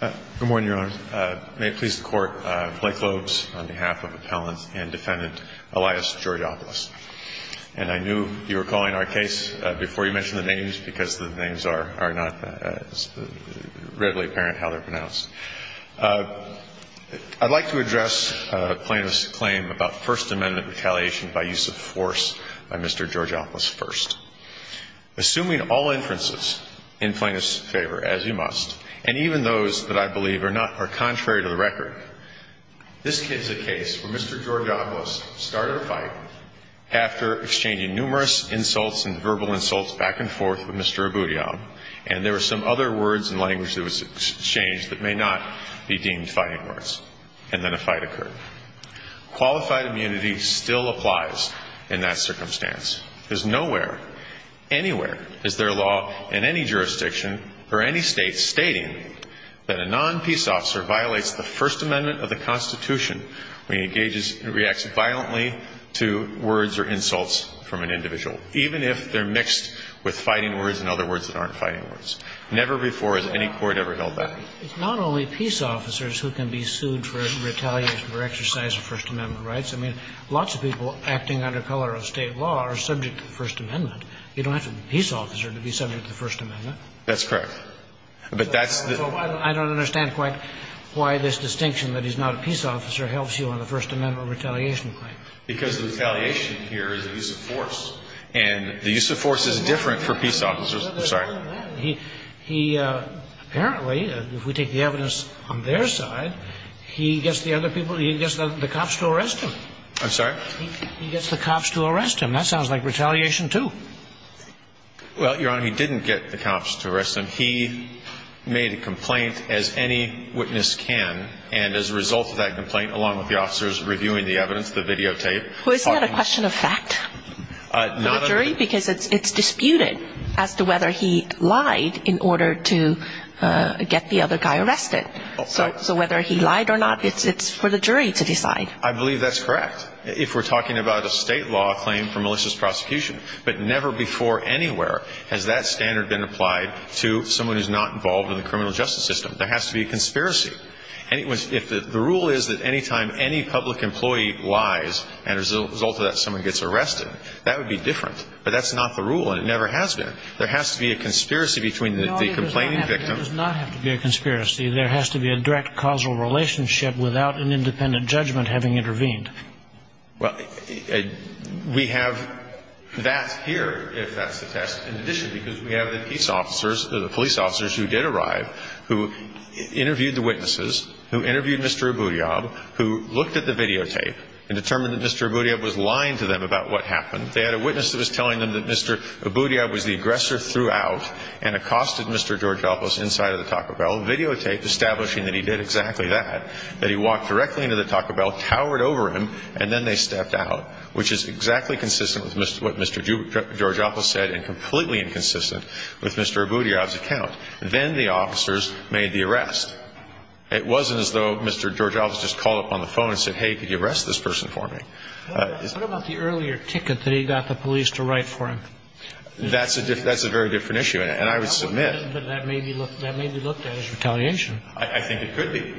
Good morning, Your Honor. May it please the Court, Blake Lobes on behalf of Appellant and Defendant Elias Georgopoulos. And I knew you were calling our case before you mentioned the names because the names are not as readily apparent how they're pronounced. I'd like to address Plaintiff's claim about First Amendment retaliation by use of force by Mr. Georgopoulos first. Assuming all inferences in Plaintiff's favor, as you must, and even those that I believe are contrary to the record, this is a case where Mr. Georgopoulos started a fight after exchanging numerous insults and verbal insults back and forth with Mr. Abudiab, and there were some other words and language that was exchanged that may not be deemed fighting words, and then a fight occurred. Qualified immunity still applies in that circumstance. There's nowhere, anywhere is there a law in any jurisdiction or any State stating that a non-peace officer violates the First Amendment of the Constitution when he engages and reacts violently to words or insults from an individual, even if they're mixed with fighting words and other words that aren't fighting words. Never before has any court ever held that. It's not only peace officers who can be sued for retaliation or exercise of First Amendment rights. I mean, lots of people acting under color of State law are subject to the First Amendment. You don't have to be a peace officer to be subject to the First Amendment. That's correct. But that's the — I don't understand quite why this distinction that he's not a peace officer helps you on the First Amendment retaliation claim. Because the retaliation here is a use of force, and the use of force is different for peace officers. I'm sorry. He apparently, if we take the evidence on their side, he gets the other people, he gets the cops to arrest him. I'm sorry? He gets the cops to arrest him. That sounds like retaliation, too. Well, Your Honor, he didn't get the cops to arrest him. He made a complaint, as any witness can, and as a result of that complaint, along with the officers reviewing the evidence, the videotape — Well, isn't that a question of fact for the jury? Because it's disputed as to whether he lied in order to get the other guy arrested. So whether he lied or not, it's for the jury's side. I believe that's correct, if we're talking about a state law claim for malicious prosecution. But never before anywhere has that standard been applied to someone who's not involved in the criminal justice system. There has to be a conspiracy. If the rule is that any time any public employee lies, and as a result of that, someone gets arrested, that would be different. But that's not the rule, and it never has been. There has to be a conspiracy between the complaining victim — No, it does not have to be a conspiracy. There has to be a direct causal relationship without an independent judgment having intervened. Well, we have that here, if that's the test. In addition, because we have the police officers who did arrive, who interviewed the witnesses, who interviewed Mr. Abudiyab, who looked at the videotape and determined that Mr. Abudiyab was lying to them about what happened. They had a witness that was telling them that Mr. Abudiyab was the aggressor throughout and accosted Mr. George Doblos inside of the Taco Bell videotape establishing that he did exactly that, that he walked directly into the Taco Bell, towered over him, and then they stepped out, which is exactly consistent with what Mr. George Doblos said and completely inconsistent with Mr. Abudiyab's account. Then the officers made the arrest. It wasn't as though Mr. George Doblos just called up on the phone and said, hey, could you arrest this person for me? What about the earlier ticket that he got the police to write for him? That's a very different issue, and I would submit — But that may be looked at as retaliation. I think it could be.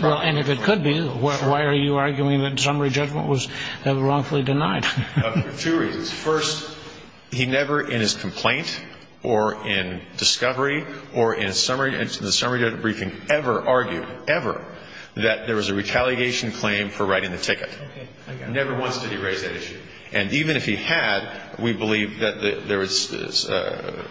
Well, and if it could be, why are you arguing that summary judgment was wrongfully denied? For two reasons. First, he never in his complaint or in discovery or in the summary judgment briefing ever argued, ever, that there was a retaliation claim for writing the ticket. Never once did he raise that issue. And even if he had, we believe that there is a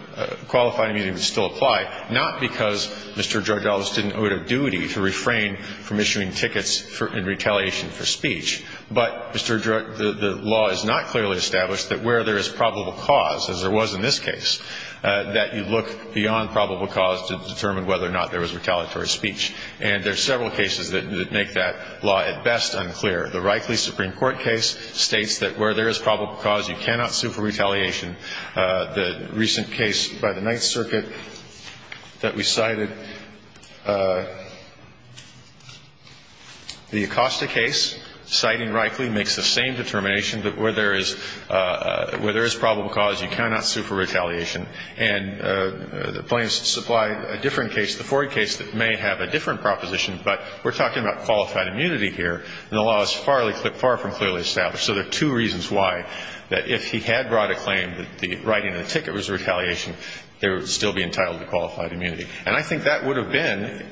qualified meeting that would still apply, not because Mr. George Doblos didn't owe it a duty to refrain from issuing tickets in retaliation for speech, but, Mr. George, the law is not clearly established that where there is probable cause, as there was in this case, that you look beyond probable cause to determine whether or not there was retaliatory speech. And there are several cases that make that law at best unclear. The Reikley Supreme Court case states that where there is probable cause, you cannot sue for retaliation. The recent case by the Ninth Circuit that we cited, the Acosta case, citing Reikley, makes the same determination that where there is probable cause, you cannot sue for retaliation. And the plaintiffs supply a different case, the Ford case, that may have a different proposition, but we're talking about qualified immunity here, and the law is far from clearly established. So there are two reasons why, that if he had brought a claim that the writing in the ticket was retaliation, there would still be entitled to qualified immunity. And I think that would have been,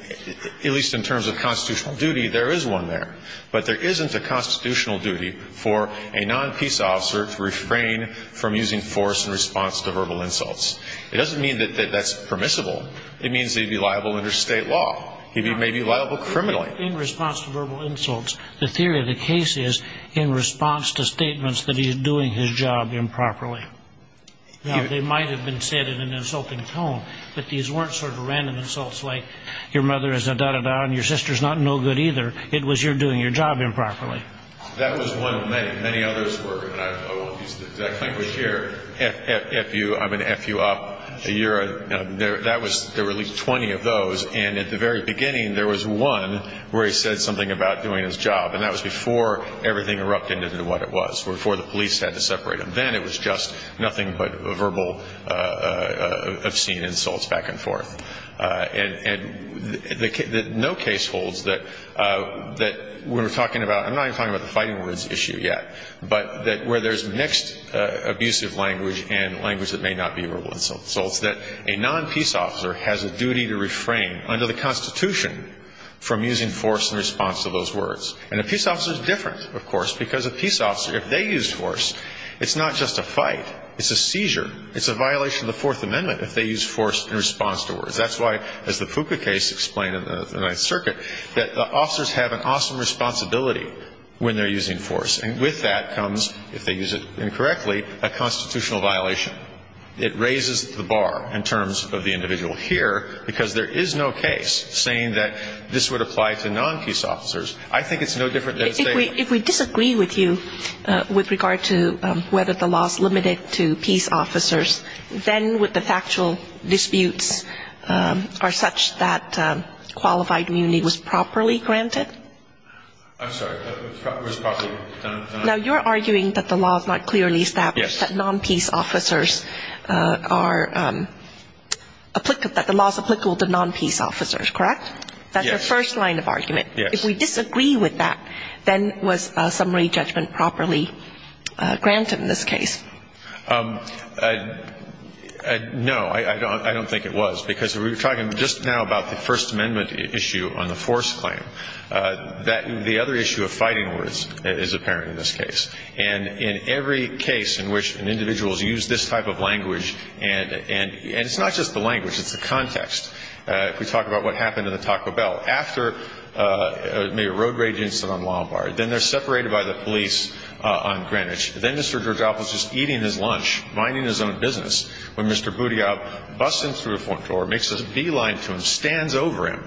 at least in terms of constitutional duty, there is one there. But there isn't a constitutional duty for a non-peace officer to refrain from using force in response to verbal insults. It doesn't mean that that's permissible. It means that he'd be liable under State law. He may be liable criminally. But in response to verbal insults, the theory of the case is in response to statements that he's doing his job improperly. Now, they might have been said in an insulting tone, but these weren't sort of random insults like, your mother is a da-da-da, and your sister's not no good either. It was you're doing your job improperly. That was one of many. Many others were, and I won't use the exact language here, F-U, I'm going to F you up. That was, there were at least 20 of those. And at the very beginning, there was one where he said something about doing his job, and that was before everything erupted into what it was, before the police had to separate him. Then it was just nothing but verbal obscene insults back and forth. And no case holds that when we're talking about, I'm not even talking about the fighting words issue yet, but that where there's mixed abusive language and language that may not be verbal insults, that a non-peace officer has a duty to refrain under the Constitution from using force in response to those words. And a peace officer's different, of course, because a peace officer, if they use force, it's not just a fight. It's a seizure. It's a violation of the Fourth Amendment if they use force in response to words. That's why, as the Fuca case explained in the Ninth Circuit, that the officers have an awesome responsibility when they're using force. And with that comes, if they use it incorrectly, a constitutional violation. It raises the bar in terms of the individual here, because there is no case saying that this would apply to non-peace officers. I think it's no different than saying... If we disagree with you with regard to whether the law is limited to peace officers, then would the factual disputes are such that qualified immunity was properly granted? I'm sorry, was properly done? Now, you're arguing that the law is not clearly established, that non-peace officers are applicable, that the law is applicable to non-peace officers, correct? Yes. That's your first line of argument. Yes. If we disagree with that, then was summary judgment properly granted in this case? No, I don't think it was, because we were talking just now about the First Amendment issue on the force claim. The other issue of fighting words is apparent in this case. And in every case in which an individual has used this type of language, and it's not just the language, it's the context. If we talk about what happened in the Taco Bell, after a road rage incident on Lombard, then they're separated by the police on Greenwich. Then Mr. Georgopoulos is eating his lunch, minding his own business, when Mr. Boutillab, busting through a front door, makes a beeline to him, stands over him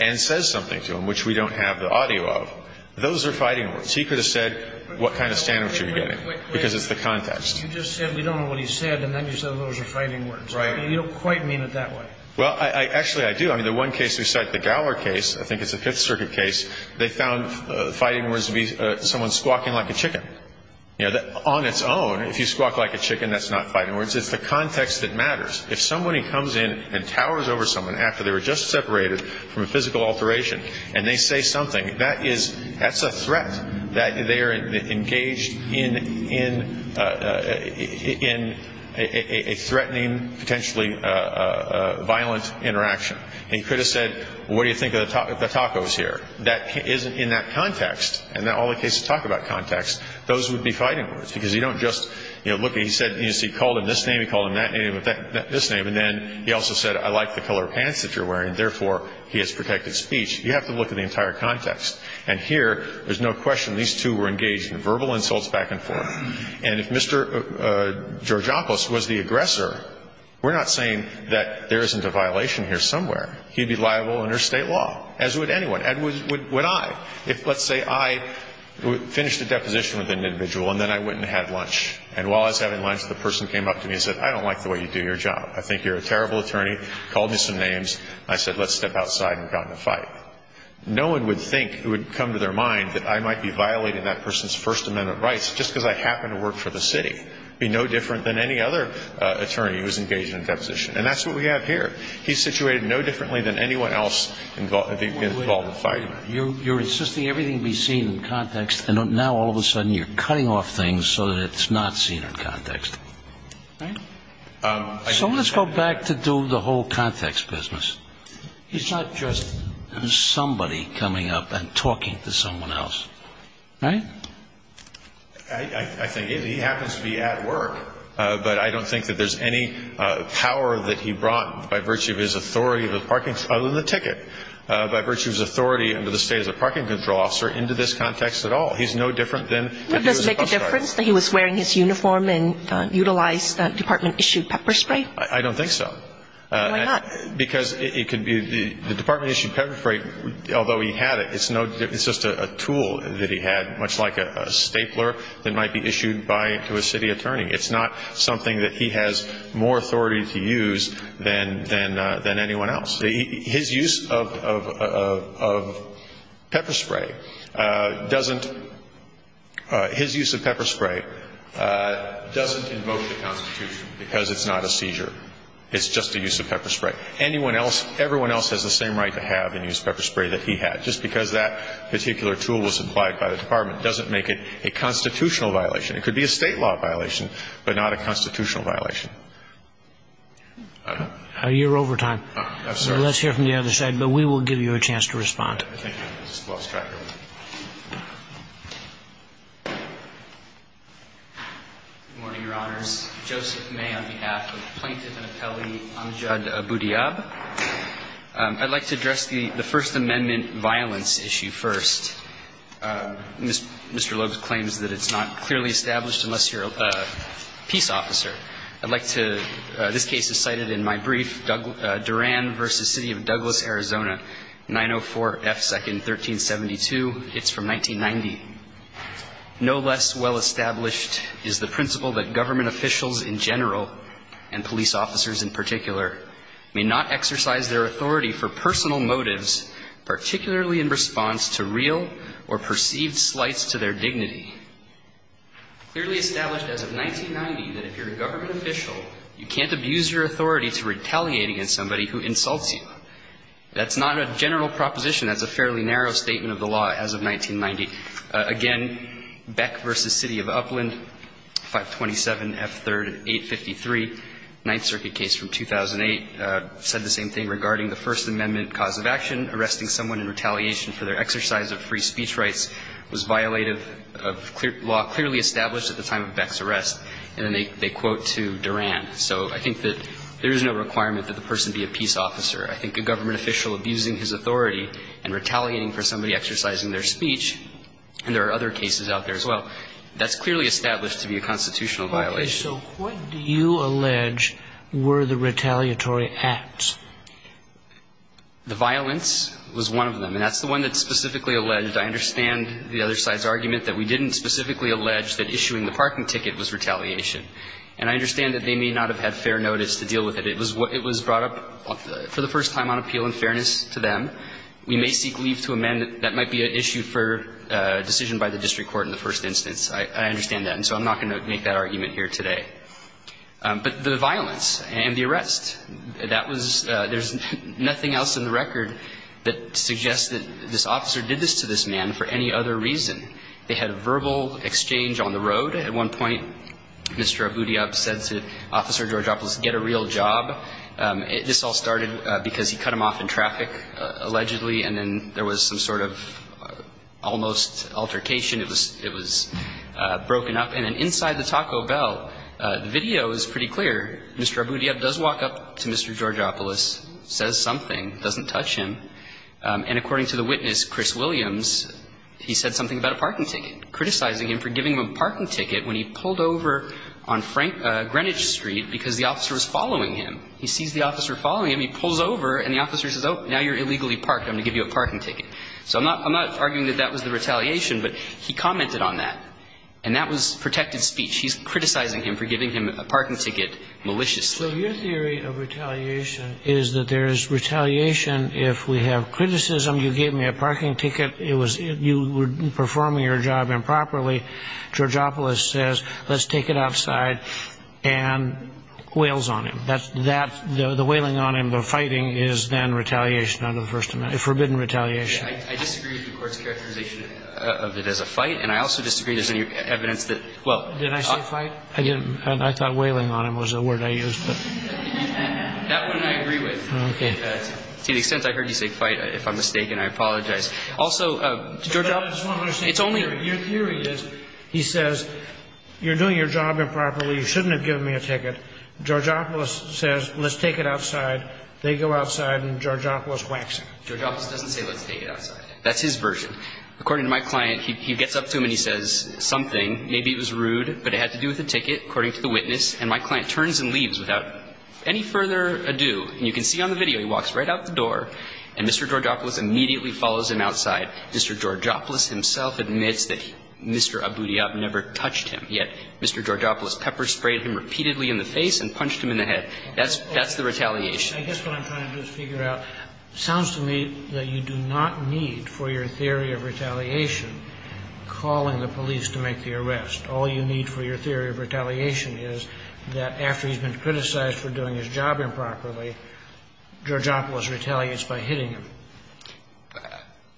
and says something to him, which we don't have the audio of. Those are fighting words. He could have said what kind of standards you're getting, because it's the context. You just said we don't know what he said, and then you said those are fighting words. Right. You don't quite mean it that way. Well, actually, I do. I mean, the one case we cite, the Gower case, I think it's a Fifth Circuit case, they found fighting words to be someone squawking like a chicken. You know, on its own, if you squawk like a chicken, that's not fighting words. It's the context that matters. If somebody comes in and towers over someone after they were just separated from a physical alteration, and they say something, that's a threat, that they are engaged in a threatening, potentially violent interaction. He could have said, well, what do you think of the tacos here? That isn't in that context. And in all the cases that talk about context, those would be fighting words, because you don't just, you know, look, he called him this name, he called him that name, this name, and then he also said, I like the color of pants that you're wearing, therefore, he has protected speech. You have to look at the entire context. And here, there's no question these two were engaged in verbal insults back and forth. And if Mr. Georgiakos was the aggressor, we're not saying that there isn't a violation here somewhere. He'd be liable under State law, as would anyone, and would I. If, let's say, I finished a deposition with an individual, and then I went and had lunch, and while I was having lunch, the person came up to me and said, I don't like the way you do your job. I think you're a terrible attorney. Called me some names. I said, let's step outside and got in a fight. No one would think, it would come to their mind, that I might be violating that person's First Amendment rights just because I happen to work for the city. It would be no different than any other attorney who's engaged in a deposition. And that's what we have here. He's situated no differently than anyone else involved in a fight. You're insisting everything be seen in context, and now, all of a sudden, you're cutting off things so that it's not seen in context. So let's go back to do the whole context business. He's not just somebody coming up and talking to someone else. Right? I think he happens to be at work, but I don't think that there's any power that he brought by virtue of his authority of the parking ñ other than the ticket ñ by virtue of his authority under the State as a parking control officer into this context at all. He's no different than if he was a bus driver. Do you have any preference that he was wearing his uniform and utilized department-issued pepper spray? I don't think so. Why not? Because it could be ñ the department-issued pepper spray, although he had it, it's no ñ it's just a tool that he had, much like a stapler that might be issued by ñ to a city attorney. It's not something that he has more authority to use than anyone else. His use of pepper spray doesn't ñ his use of pepper spray doesn't invoke the Constitution because it's not a seizure. It's just a use of pepper spray. Anyone else ñ everyone else has the same right to have and use pepper spray that he had. Just because that particular tool was supplied by the department doesn't make it a constitutional violation. It could be a State law violation, but not a constitutional violation. You're over time. I'm sorry. Let's hear from the other side, but we will give you a chance to respond. I think I just lost track of him. Good morning, Your Honors. Joseph May on behalf of Plaintiff and Appellee Amjad Abudiyab. I'd like to address the First Amendment violence issue first. Mr. Loeb claims that it's not clearly established unless you're a peace officer. I'd like to ñ this case is cited in my brief, Duran v. City of Douglas, Arizona, 904 F. 2nd, 1372. It's from 1990. No less well established is the principle that government officials in general and police officers in particular may not exercise their authority for personal motives, particularly in response to real or perceived slights to their dignity. Clearly established as of 1990 that if you're a government official, you can't abuse your authority to retaliate against somebody who insults you. That's not a general proposition. That's a fairly narrow statement of the law as of 1990. Again, Beck v. City of Upland, 527 F. 3rd, 853, Ninth Circuit case from 2008, said the same thing regarding the First Amendment cause of action. The First Amendment, the law clearly established that the person arresting someone in retaliation for their exercise of free speech rights was violated of clear ñ law clearly established at the time of Beck's arrest. And then they quote to Duran. So I think that there is no requirement that the person be a peace officer. I think a government official abusing his authority and retaliating for somebody exercising their speech, and there are other cases out there as well, that's clearly established to be a constitutional violation. So what do you allege were the retaliatory acts? The violence was one of them. And that's the one that's specifically alleged. I understand the other side's argument that we didn't specifically allege that issuing the parking ticket was retaliation. And I understand that they may not have had fair notice to deal with it. It was brought up for the first time on appeal and fairness to them. We may seek leave to amend it. That might be an issue for decision by the district court in the first instance. I understand that. And so I'm not going to make that argument here today. But the violence and the arrest, that was ñ there's nothing else in the record that suggests that this officer did this to this man for any other reason. They had a verbal exchange on the road. At one point, Mr. Abudiab said to Officer Georgopoulos, get a real job. This all started because he cut him off in traffic, allegedly, and then there was some sort of almost altercation. It was ñ it was broken up. And then inside the Taco Bell, the video is pretty clear. Mr. Abudiab does walk up to Mr. Georgopoulos, says something, doesn't touch him. And according to the witness, Chris Williams, he said something about a parking ticket, criticizing him for giving him a parking ticket when he pulled over on Frank ñ Greenwich Street because the officer was following him. He sees the officer following him. He pulls over and the officer says, oh, now you're illegally parked. I'm going to give you a parking ticket. So I'm not ñ I'm not arguing that that was the retaliation, but he commented on that. And that was protected speech. He's criticizing him for giving him a parking ticket maliciously. So your theory of retaliation is that there is retaliation if we have criticism. You gave me a parking ticket. It was ñ you were performing your job improperly. Georgopoulos says, let's take it outside, and wails on him. That's ñ that, the wailing on him, the fighting is then retaliation under the First Amendment, forbidden retaliation. I disagree with the Court's characterization of it as a fight, and I also disagree there's any evidence that, well ñ Did I say fight? I didn't. I thought wailing on him was the word I used. That one I agree with. Okay. To the extent I heard you say fight, if I'm mistaken, I apologize. Also, Georgopoulos, it's only ñ Your theory is, he says, you're doing your job improperly. You shouldn't have given me a ticket. Georgopoulos says, let's take it outside. They go outside, and Georgopoulos wacks him. Georgopoulos doesn't say, let's take it outside. That's his version. According to my client, he gets up to him and he says something. Maybe it was rude, but it had to do with the ticket, according to the witness. And my client turns and leaves without any further ado. And you can see on the video, he walks right out the door, and Mr. Georgopoulos immediately follows him outside. Mr. Georgopoulos himself admits that Mr. Abudiab never touched him, yet Mr. Georgopoulos pepper-sprayed him repeatedly in the face and punched him in the head. That's the retaliation. I guess what I'm trying to figure out sounds to me that you do not need for your theory of retaliation calling the police to make the arrest. All you need for your theory of retaliation is that after he's been criticized for doing his job improperly, Georgopoulos retaliates by hitting him.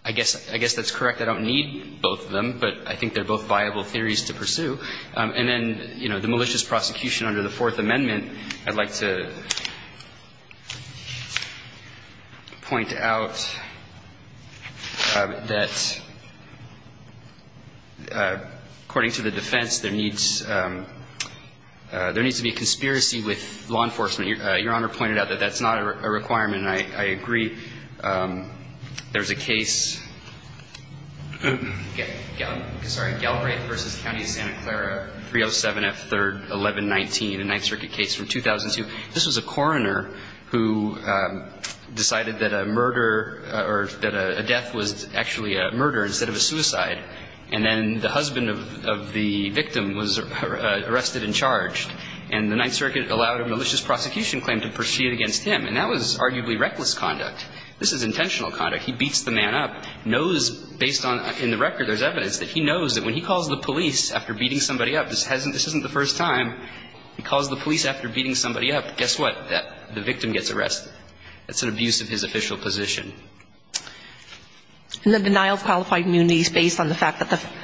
I guess that's correct. I don't need both of them, but I think they're both viable theories to pursue. And then, you know, the malicious prosecution under the Fourth Amendment. I'd like to point out that according to the defense, there needs to be a conspiracy with law enforcement. Your Honor pointed out that that's not a requirement, and I agree. There's a case, sorry, Galbraith v. County of Santa Clara, 307 F. 3rd, 1119, a Ninth Circuit case from 2002. This was a coroner who decided that a murder or that a death was actually a murder instead of a suicide, and then the husband of the victim was arrested and charged. And the Ninth Circuit allowed a malicious prosecution claim to proceed against him, and that was arguably reckless conduct. This is intentional conduct. He beats the man up, knows based on the record there's evidence that he knows that when he calls the police after beating somebody up, this isn't the first time he calls the police after beating somebody up, guess what? The victim gets arrested. That's an abuse of his official position. And the denial of qualified immunity is based on the fact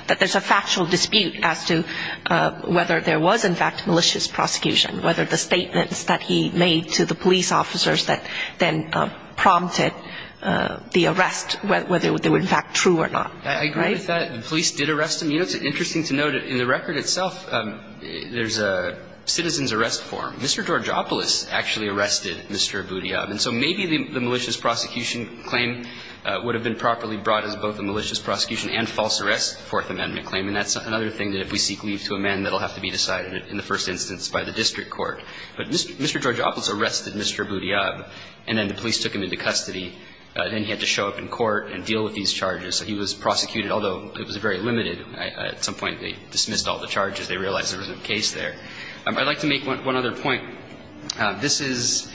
that there's a factual dispute as to whether there was, in fact, malicious prosecution, whether the statements that he made to the police officers that then prompted the arrest, whether they were, in fact, true or not. Right? I agree with that. The police did arrest him. You know, it's interesting to note in the record itself there's a citizen's arrest form. Mr. Georgopoulos actually arrested Mr. Abudiyab, and so maybe the malicious prosecution claim would have been properly brought as both a malicious prosecution and false arrest, the Fourth Amendment claim, and that's another thing that if we seek leave to amend, that will have to be decided in the first instance by the district court. But Mr. Georgopoulos arrested Mr. Abudiyab, and then the police took him into custody. Then he had to show up in court and deal with these charges. So he was prosecuted, although it was very limited. At some point they dismissed all the charges. They realized there was a case there. I'd like to make one other point. This is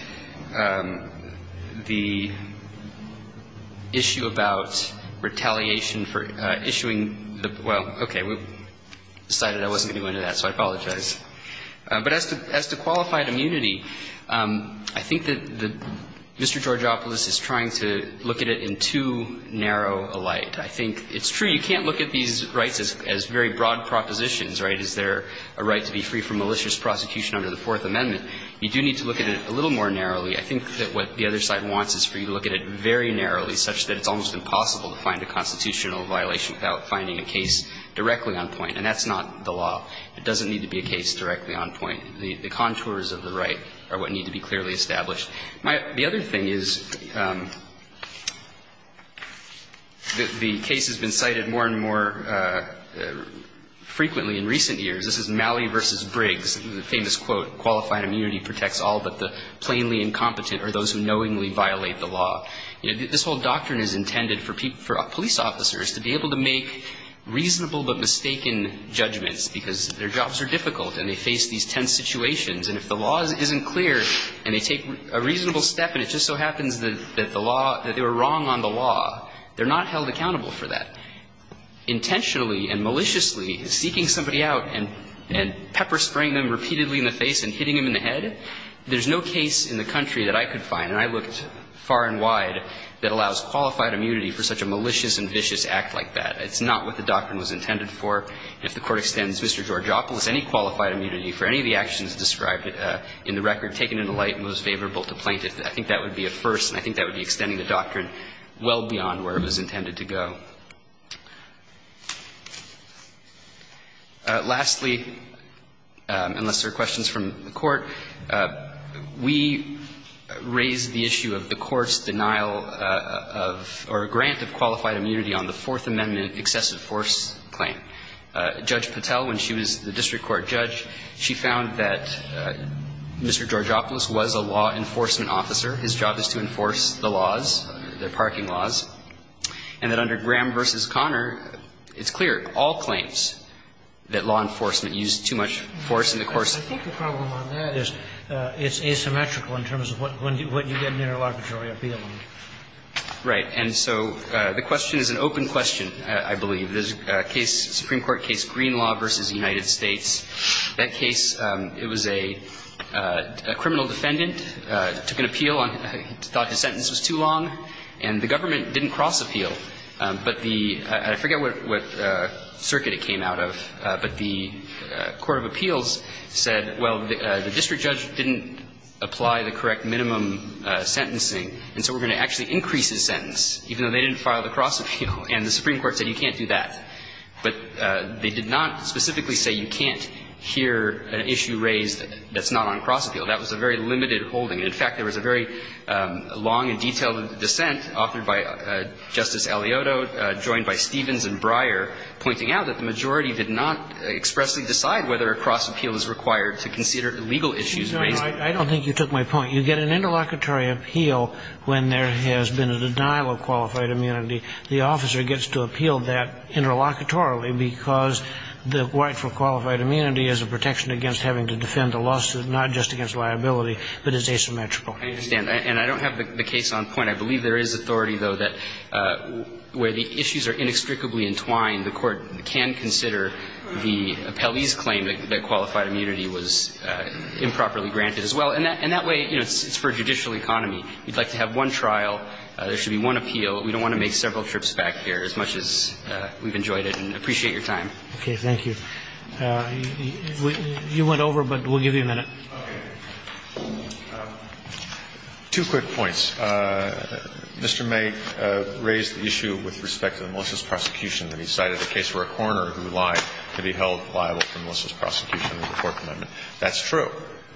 the issue about retaliation for issuing the – well, okay. We decided I wasn't going to go into that, so I apologize. But as to qualified immunity, I think that Mr. Georgopoulos is trying to look at it in too narrow a light. I think it's true you can't look at these rights as very broad propositions, right? Is there a right to be free from malicious prosecution under the Fourth Amendment? You do need to look at it a little more narrowly. I think that what the other side wants is for you to look at it very narrowly, And that's not the law. It doesn't need to be a case directly on point. The contours of the right are what need to be clearly established. The other thing is that the case has been cited more and more frequently in recent years. This is Malley v. Briggs, the famous quote, This whole doctrine is intended for police officers to be able to make reasonable but mistaken judgments because their jobs are difficult and they face these tense situations. And if the law isn't clear and they take a reasonable step and it just so happens that the law – that they were wrong on the law, they're not held accountable for that. Intentionally and maliciously seeking somebody out and pepper-spraying them repeatedly in the face and hitting them in the head, there's no case in the country that I could find, and I looked far and wide, that allows qualified immunity for such a malicious and vicious act like that. It's not what the doctrine was intended for. If the Court extends Mr. Georgopoulos any qualified immunity for any of the actions described in the record taken into light and was favorable to plaintiffs, I think that would be a first and I think that would be extending the doctrine well beyond where it was intended to go. Lastly, unless there are questions from the Court, we raise the issue of the Court's denial of or grant of qualified immunity on the Fourth Amendment excessive force claim. Judge Patel, when she was the district court judge, she found that Mr. Georgopoulos was a law enforcement officer. His job is to enforce the laws, the parking laws. And that under Graham v. Conner, it's clear, all claims, that law enforcement used too much force in the course of the case. I think the problem on that is it's asymmetrical in terms of when you get an interlocutory appeal. Right. And so the question is an open question, I believe. There's a case, Supreme Court case Greenlaw v. United States. That case, it was a criminal defendant, took an appeal, thought his sentence was too long, and the government didn't cross-appeal. But the – I forget what circuit it came out of, but the court of appeals said, well, the district judge didn't apply the correct minimum sentencing, and so we're going to actually increase his sentence, even though they didn't file the cross-appeal. And the Supreme Court said you can't do that. But they did not specifically say you can't hear an issue raised that's not on cross-appeal. That was a very limited holding. In fact, there was a very long and detailed dissent authored by Justice Alioto joined by Stevens and Breyer pointing out that the majority did not expressly decide whether a cross-appeal is required to consider legal issues raised. I don't think you took my point. You get an interlocutory appeal when there has been a denial of qualified immunity. The officer gets to appeal that interlocutorily because the right for qualified immunity is immetrical. I understand. And I don't have the case on point. I believe there is authority, though, that where the issues are inextricably entwined, the court can consider the appellee's claim that qualified immunity was improperly granted as well. And that way, you know, it's for judicial economy. You'd like to have one trial. There should be one appeal. We don't want to make several trips back here, as much as we've enjoyed it and appreciate your time. Thank you. You went over, but we'll give you a minute. Two quick points. Mr. May raised the issue with respect to the malicious prosecution that he cited, the case where a coroner who lied could be held liable for malicious prosecution under the Fourth Amendment. That's true.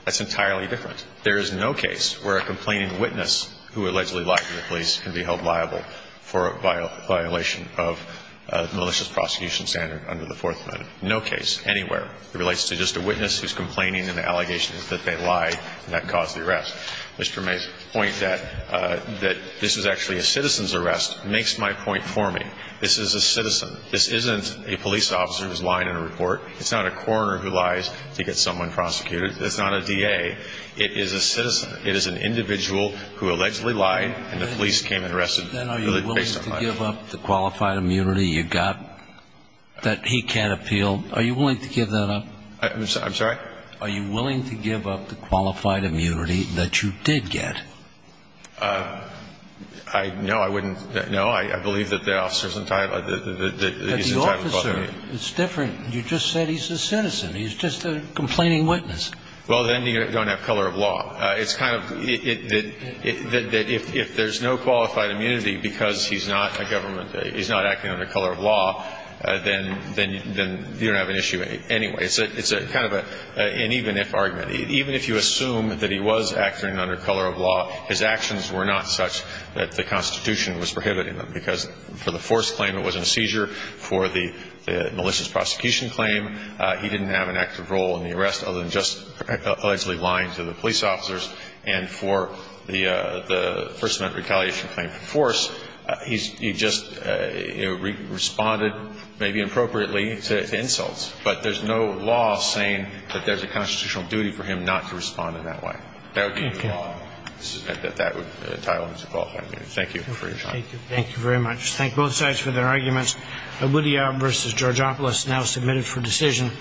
That's entirely different. There is no case where a complaining witness who allegedly lied to the police can be held liable for a violation of malicious prosecution standard under the Fourth Amendment. No case anywhere. It relates to just a witness who's complaining, and the allegation is that they lied, and that caused the arrest. Mr. May's point that this is actually a citizen's arrest makes my point for me. This is a citizen. This isn't a police officer who's lying in a report. It's not a coroner who lies to get someone prosecuted. It's not a DA. It is a citizen. It is an individual who allegedly lied, and the police came and arrested him. Then are you willing to give up the qualified immunity you got, that he can't appeal? Are you willing to give that up? I'm sorry? Are you willing to give up the qualified immunity that you did get? No, I wouldn't. No. I believe that the officer's entitled to the immunity. But the officer, it's different. You just said he's a citizen. He's just a complaining witness. Well, then you don't have color of law. It's kind of that if there's no qualified immunity because he's not a government government, he's not acting under color of law, then you don't have an issue anyway. It's kind of an even-if argument. Even if you assume that he was acting under color of law, his actions were not such that the Constitution was prohibiting them. Because for the force claim, it wasn't a seizure. For the malicious prosecution claim, he didn't have an active role in the arrest other than just allegedly lying to the police officers. And for the first-amendment retaliation claim for force, he just responded maybe appropriately to insults. But there's no law saying that there's a constitutional duty for him not to respond in that way. That would be the law. Okay. That would entitle him to qualified immunity. Thank you for your time. Thank you. Thank you very much. Thank both sides for their arguments. Ludhiab v. Georgopoulos now submitted for decision.